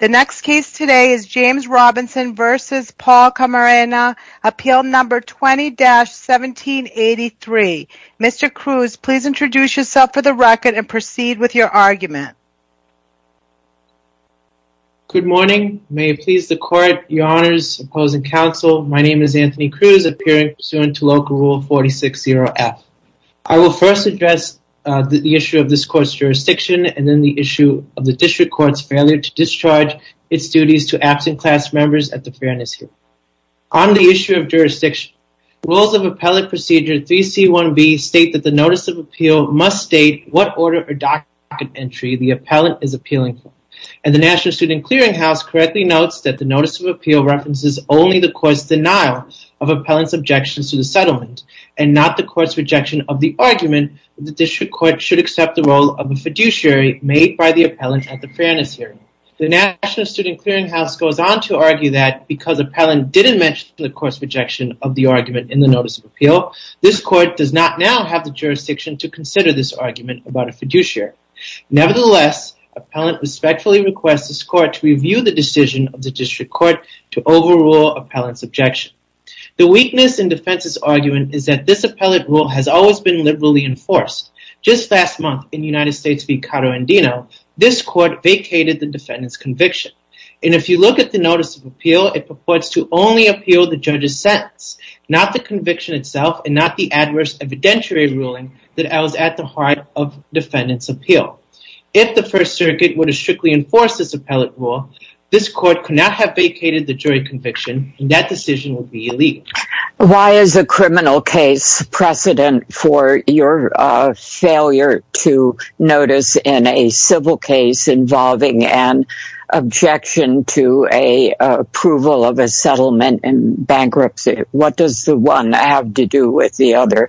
The next case today is James Robinson v. Paul Camarena, Appeal No. 20-1783. Mr. Cruz, please introduce yourself for the record and proceed with your argument. Good morning. May it please the Court, Your Honors, Opposing Counsel, my name is Anthony Cruz, appearing pursuant to Local Rule 460F. I will first address the issue of this Court's jurisdiction and then the issue of the District Court's failure to discharge its duties to absent class members at the Fairness Health. On the issue of jurisdiction, Rules of Appellate Procedure 3C1B state that the Notice of Appeal must state what order or docket entry the appellant is appealing for. And the National Student Clearinghouse correctly notes that the Notice of Appeal references only the Court's denial of appellant's objections to the settlement, and not the Court's rejection of the argument that the District Court should accept the role of a fiduciary made by the appellant at the Fairness Hearing. The National Student Clearinghouse goes on to argue that, because appellant didn't mention the Court's rejection of the argument in the Notice of Appeal, this Court does not now have the jurisdiction to consider this argument about a fiduciary. Nevertheless, appellant respectfully requests this Court to review the decision of the District Court to overrule appellant's objection. The weakness in defense's argument is that this appellant rule has always been liberally enforced. Just last month, in United States v. Cato and Dino, this Court vacated the defendant's conviction. And if you look at the Notice of Appeal, it purports to only appeal the judge's sentence, not the conviction itself and not the adverse evidentiary ruling that was at the heart of defendant's appeal. If the First Circuit would have strictly enforced this appellant rule, this Court could not have vacated the jury conviction, and that decision would be illegal. Why is a criminal case precedent for your failure to notice in a civil case involving an objection to approval of a settlement in bankruptcy? What does the one have to do with the other?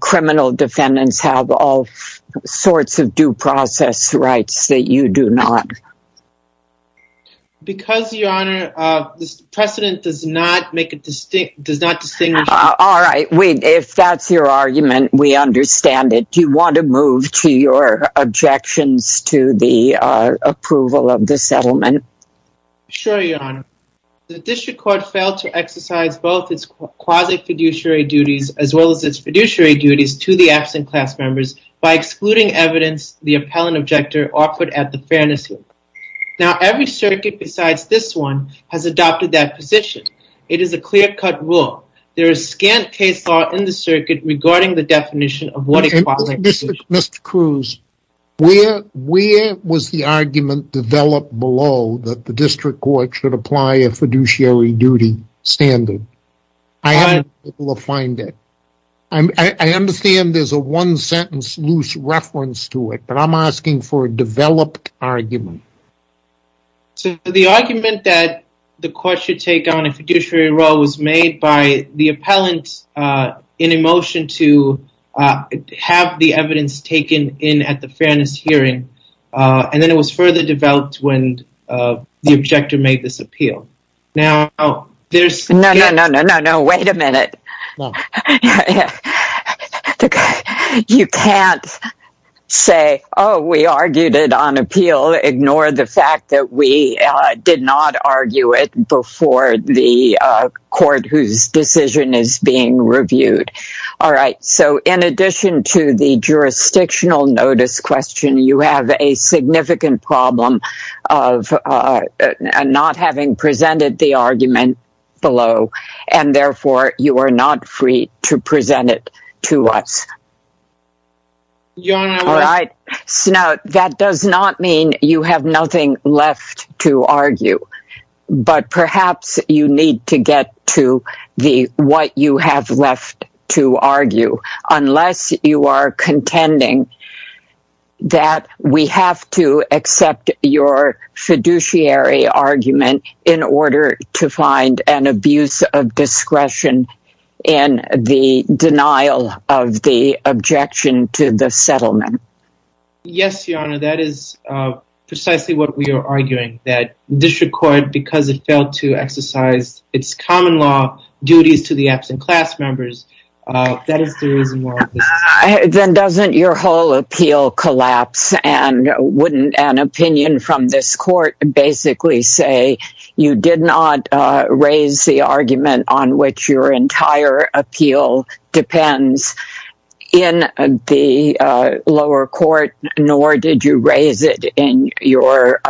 Criminal defendants have all sorts of due process rights that you do not. Because, Your Honor, this precedent does not distinguish... All right, if that's your argument, we understand it. Do you want to move to your objections to the approval of the settlement? Sure, Your Honor. The District Court failed to exercise both its quasi-fiduciary duties as well as its fiduciary duties to the absent class members by excluding evidence the appellant objector offered at the fairness hearing. Now, every circuit besides this one has adopted that position. It is a clear-cut rule. There is scant case law in the circuit regarding the definition of what a quasi-fiduciary... Mr. Cruz, where was the argument developed below that the District Court should apply a fiduciary duty standard? I haven't been able to find it. I understand there's a one-sentence loose reference to it, but I'm asking for a developed argument. So, the argument that the court should take on a fiduciary role was made by the appellant in a motion to have the evidence taken in at the fairness hearing, and then it was further developed when the objector made this appeal. Now, there's... No, no, no, no, no. Wait a minute. You can't say, oh, we argued it on appeal. Ignore the fact that we did not argue it before the court whose decision is being reviewed. All right. So, in addition to the jurisdictional notice question, you have a significant problem of not having presented the argument below, and therefore you are not free to present it to us. Your Honor, I was... All right. Now, that does not mean you have nothing left to argue, but perhaps you need to get to the what you have left to argue, unless you are contending that we have to accept your fiduciary argument in order to find an abuse of discretion in the denial of the objection to the settlement. Yes, Your Honor, that is precisely what we are arguing, that district court, because it failed to exercise its common law duties to the absent class members, that is the reason why... Then doesn't your whole appeal collapse, and wouldn't an opinion from this court basically say you did not raise the argument on which your entire appeal depends in the lower court, nor did you raise it in your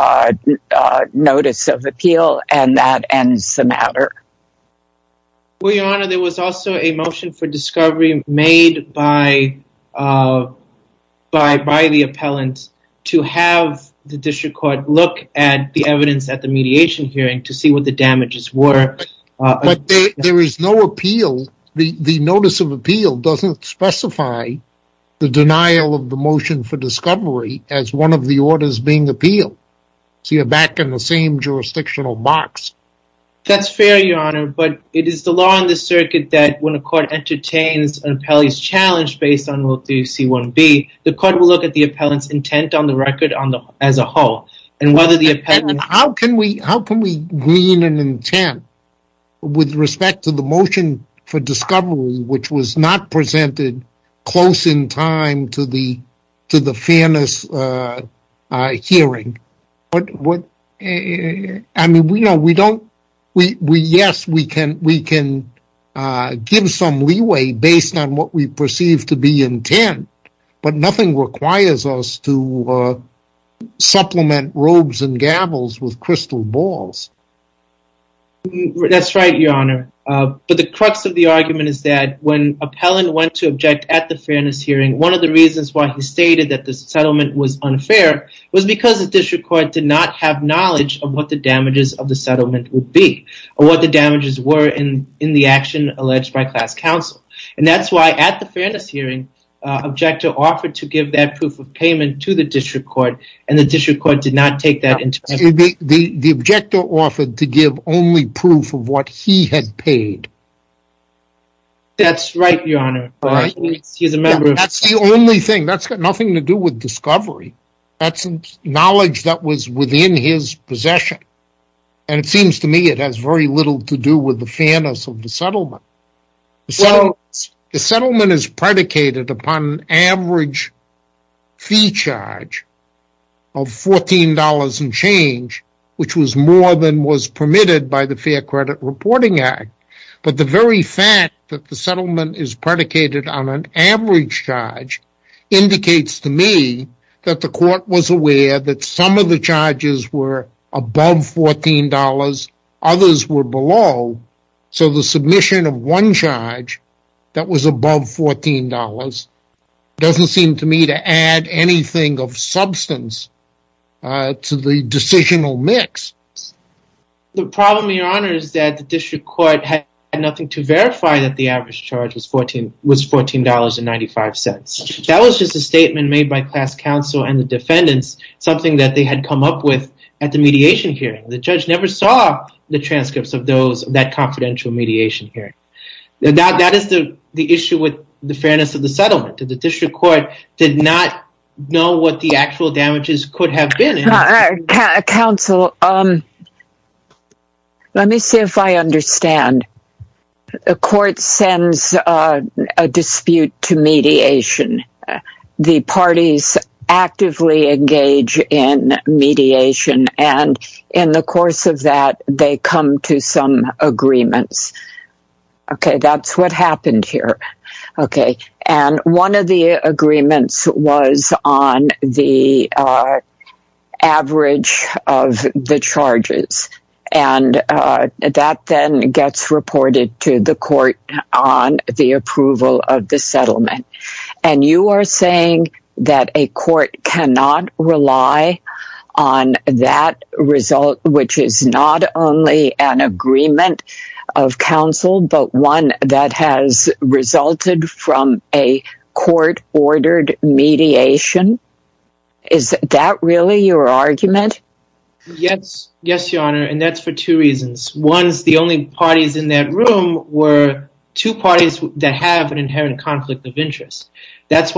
notice of appeal, and that ends the matter? Well, Your Honor, there was also a motion for discovery made by the appellant to have the district court look at the evidence at the mediation hearing to see what the damages were. But there is no appeal. The notice of appeal doesn't specify the denial of the motion for discovery as one of the orders being appealed. So, you're back in the same jurisdictional box. That's fair, Your Honor, but it is the law in the circuit that when a court entertains an appellee's challenge based on Rule 3C1B, the court will look at the appellant's intent on the record as a whole. How can we glean an intent with respect to the motion for discovery which was not presented close in time to the fairness hearing? Yes, we can give some leeway based on what we perceive to be intent, but nothing requires us to supplement robes and gavels with crystal balls. That's right, Your Honor, but the crux of the argument is that when the appellant went to object at the fairness hearing, one of the reasons why he stated that the settlement was unfair was because the district court did not have knowledge of what the damages of the settlement would be or what the damages were in the action alleged by class counsel. That's why at the fairness hearing, the objector offered to give that proof of payment to the district court, and the district court did not take that into consideration. The objector offered to give only proof of what he had paid. That's right, Your Honor. That's the only thing. That's got nothing to do with discovery. That's knowledge that was within his possession, and it seems to me it has very little to do with the fairness of the settlement. The settlement is predicated upon average fee charge of $14 and change, which was more than was permitted by the Fair Credit Reporting Act. But the very fact that the settlement is predicated on an average charge indicates to me that the court was aware that some of the charges were above $14, others were below. So the submission of one charge that was above $14 doesn't seem to me to add anything of substance to the decisional mix. The problem, Your Honor, is that the district court had nothing to verify that the average charge was $14.95. That was just a statement made by class counsel and the defendants, something that they had come up with at the mediation hearing. The judge never saw the transcripts of that confidential mediation hearing. That is the issue with the fairness of the settlement. The district court did not know what the actual damages could have been. Counsel, let me see if I understand. The court sends a dispute to mediation. The parties actively engage in mediation, and in the course of that, they come to some agreements. Okay, that's what happened here. One of the agreements was on the average of the charges. That then gets reported to the court on the approval of the settlement. And you are saying that a court cannot rely on that result, which is not only an agreement of counsel, but one that has resulted from a court-ordered mediation? Is that really your argument? Yes, Your Honor, and that's for two reasons. The only parties in that room were two parties that have an inherent conflict of interest. I thought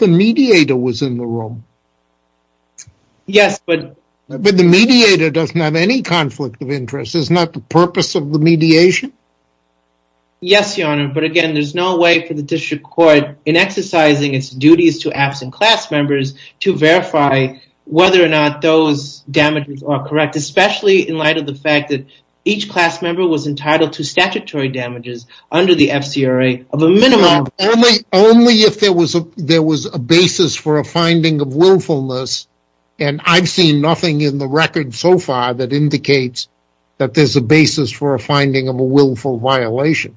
the mediator was in the room. Yes, but... But the mediator doesn't have any conflict of interest. It's not the purpose of the mediation? Yes, Your Honor, but again, there's no way for the district court in exercising its duties to absent class members to verify whether or not those damages are correct. Especially in light of the fact that each class member was entitled to statutory damages under the FCRA of a minimum. Only if there was a basis for a finding of willfulness. And I've seen nothing in the record so far that indicates that there's a basis for a finding of a willful violation.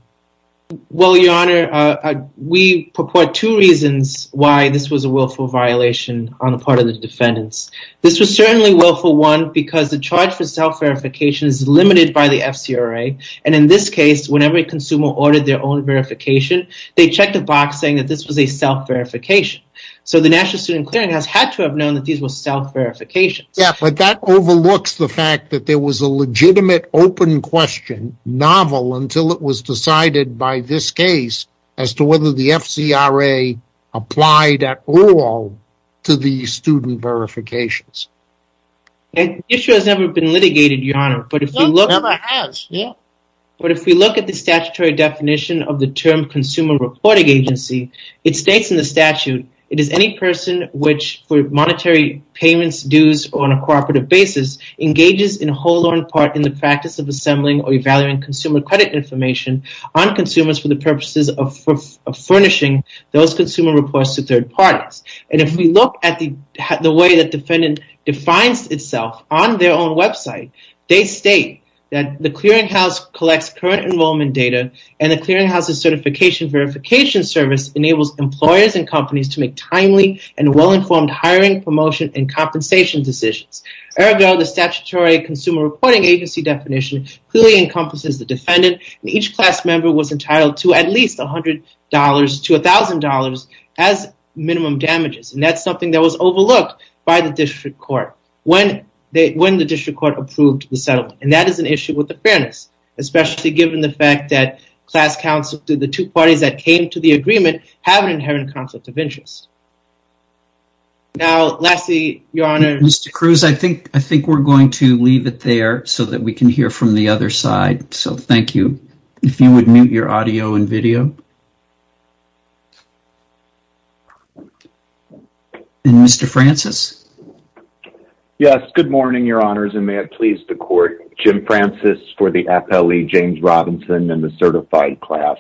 Well, Your Honor, we purport two reasons why this was a willful violation on the part of the defendants. This was certainly willful, one, because the charge for self-verification is limited by the FCRA. And in this case, whenever a consumer ordered their own verification, they checked a box saying that this was a self-verification. So the National Student Clearinghouse had to have known that these were self-verifications. Yes, but that overlooks the fact that there was a legitimate open question, novel, until it was decided by this case as to whether the FCRA applied at all to these student verifications. The issue has never been litigated, Your Honor. But if we look at the statutory definition of the term consumer reporting agency, it states in the statute, it is any person which, for monetary payments, dues, or on a cooperative basis, engages in whole or in part in the practice of assembling or evaluating consumer credit information on consumers for the purposes of furnishing those consumer reports to third parties. And if we look at the way the defendant defines itself on their own website, they state that the clearinghouse collects current enrollment data, and the clearinghouse's certification verification service enables employers and companies to make timely and well-informed hiring, promotion, and compensation decisions. Ergo, the statutory consumer reporting agency definition clearly encompasses the defendant, and each class member was entitled to at least $100 to $1,000 as minimum damages. And that's something that was overlooked by the district court when the district court approved the settlement. And that is an issue with the fairness, especially given the fact that class counsel to the two parties that came to the agreement have an inherent conflict of interest. Now, lastly, Your Honor. Mr. Cruz, I think we're going to leave it there so that we can hear from the other side. So thank you. If you would mute your audio and video. And Mr. Francis. Yes. Good morning, Your Honors, and may it please the court. Jim Francis for the FLE James Robinson and the certified class.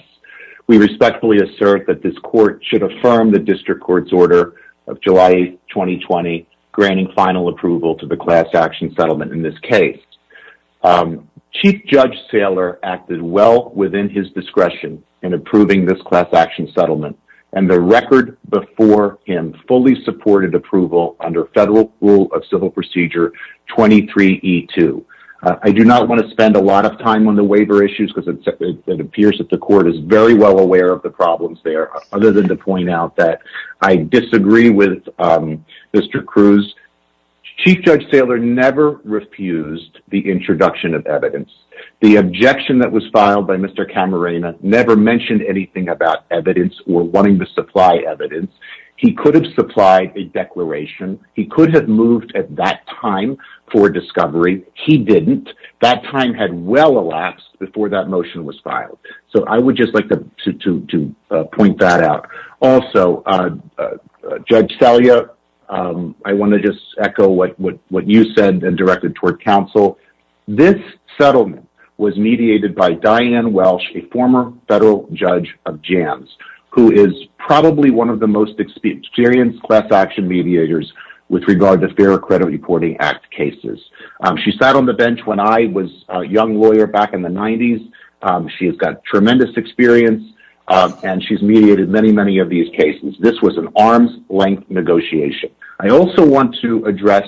We respectfully assert that this court should affirm the district court's order of July 2020, granting final approval to the class action settlement in this case. Chief Judge Saylor acted well within his discretion in approving this class action settlement, and the record before him fully supported approval under federal rule of civil procedure 23E2. I do not want to spend a lot of time on the waiver issues because it appears that the court is very well aware of the problems there, other than to point out that I disagree with Mr. Cruz. Chief Judge Saylor never refused the introduction of evidence. The objection that was filed by Mr. Camarena never mentioned anything about evidence or wanting to supply evidence. He could have supplied a declaration. He could have moved at that time for discovery. He didn't. That time had well elapsed before that motion was filed. So I would just like to point that out. Also, Judge Salyer, I want to just echo what you said and directed toward counsel. This settlement was mediated by Diane Welsh, a former federal judge of Jams, who is probably one of the most experienced class action mediators with regard to Fair Credit Reporting Act cases. She sat on the bench when I was a young lawyer back in the 90s. She has got tremendous experience, and she's mediated many, many of these cases. This was an arm's-length negotiation. I also want to address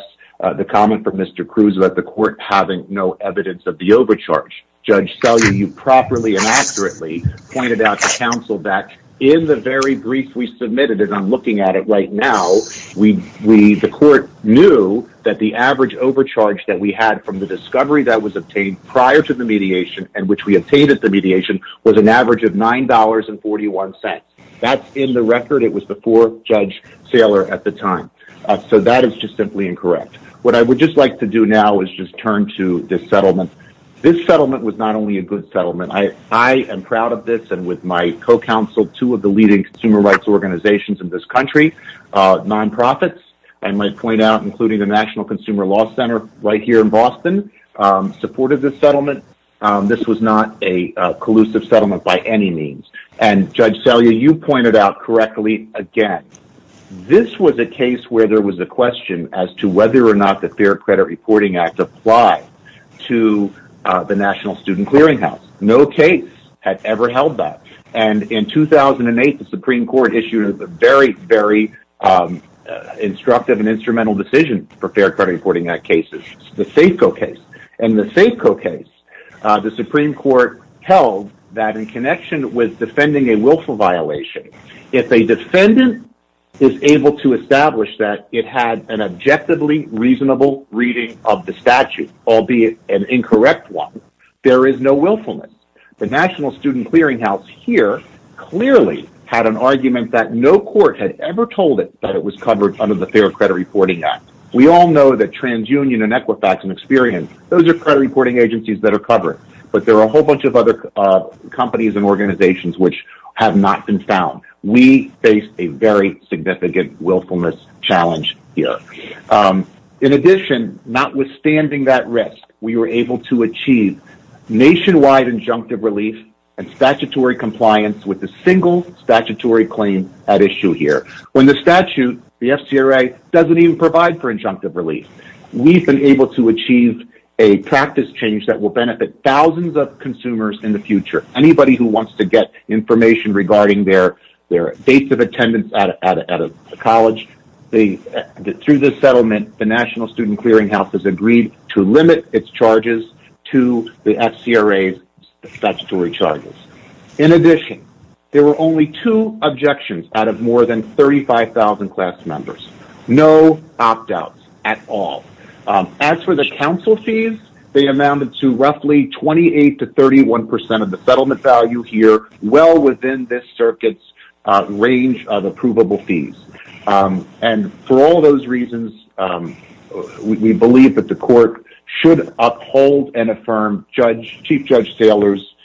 the comment from Mr. Cruz about the court having no evidence of the overcharge. Judge Salyer, you properly and accurately pointed out to counsel that in the very brief we submitted, and I'm looking at it right now, the court knew that the average overcharge that we had from the discovery that was obtained prior to the mediation and which we obtained at the mediation was an average of $9.41. That's in the record. It was before Judge Salyer at the time. So that is just simply incorrect. What I would just like to do now is just turn to this settlement. This settlement was not only a good settlement. I am proud of this, and with my co-counsel, two of the leading consumer rights organizations in this country, nonprofits, I might point out, including the National Consumer Law Center right here in Boston, supported this settlement. This was not a collusive settlement by any means. Judge Salyer, you pointed out correctly again. This was a case where there was a question as to whether or not the Fair Credit Reporting Act applied to the National Student Clearinghouse. No case had ever held that. In 2008, the Supreme Court issued a very, very instructive and instrumental decision for Fair Credit Reporting Act cases, the Safeco case. In the Safeco case, the Supreme Court held that in connection with defending a willful violation, if a defendant is able to establish that it had an objectively reasonable reading of the statute, albeit an incorrect one, there is no willfulness. The National Student Clearinghouse here clearly had an argument that no court had ever told it that it was covered under the Fair Credit Reporting Act. We all know that TransUnion and Equifax and Experian, those are credit reporting agencies that are covered, but there are a whole bunch of other companies and organizations which have not been found. We face a very significant willfulness challenge here. In addition, notwithstanding that risk, we were able to achieve nationwide injunctive relief and statutory compliance with a single statutory claim at issue here. When the statute, the FCRA, doesn't even provide for injunctive relief, we've been able to achieve a practice change that will benefit thousands of consumers in the future. Anybody who wants to get information regarding their dates of attendance at a college, through this settlement, the National Student Clearinghouse has agreed to limit its charges to the FCRA's statutory charges. In addition, there were only two objections out of more than 35,000 class members. No opt-outs at all. As for the council fees, they amounted to roughly 28% to 31% of the settlement value here, well within this circuit's range of approvable fees. For all those reasons, we believe that the court should uphold and affirm Chief Judge Saylor's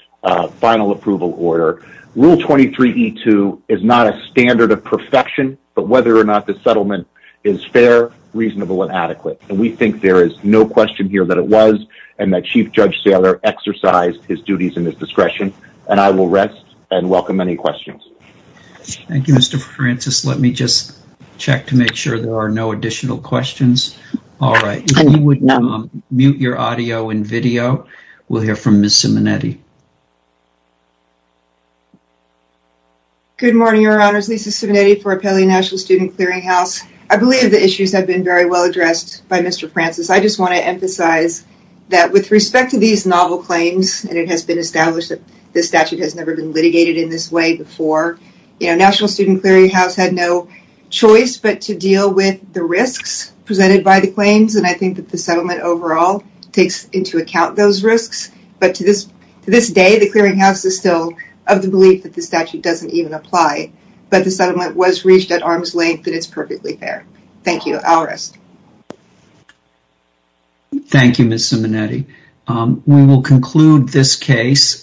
final approval order. Rule 23E2 is not a standard of perfection, but whether or not the settlement is fair, reasonable, and adequate. We think there is no question here that it was, and that Chief Judge Saylor exercised his duties and his discretion. I will rest and welcome any questions. Thank you, Mr. Francis. Let me just check to make sure there are no additional questions. All right, if you would mute your audio and video, we'll hear from Ms. Simonetti. Good morning, Your Honors. Lisa Simonetti for Appellee National Student Clearinghouse. I believe the issues have been very well addressed by Mr. Francis. I just want to emphasize that with respect to these novel claims, and it has been established that this statute has never been litigated in this way before, National Student Clearinghouse had no choice but to deal with the risks presented by the claims, and I think that the settlement overall takes into account those risks. But to this day, the Clearinghouse is still of the belief that the statute doesn't even apply. But the settlement was reached at arm's length, and it's perfectly fair. Thank you. I'll rest. Thank you, Ms. Simonetti. We will conclude this case.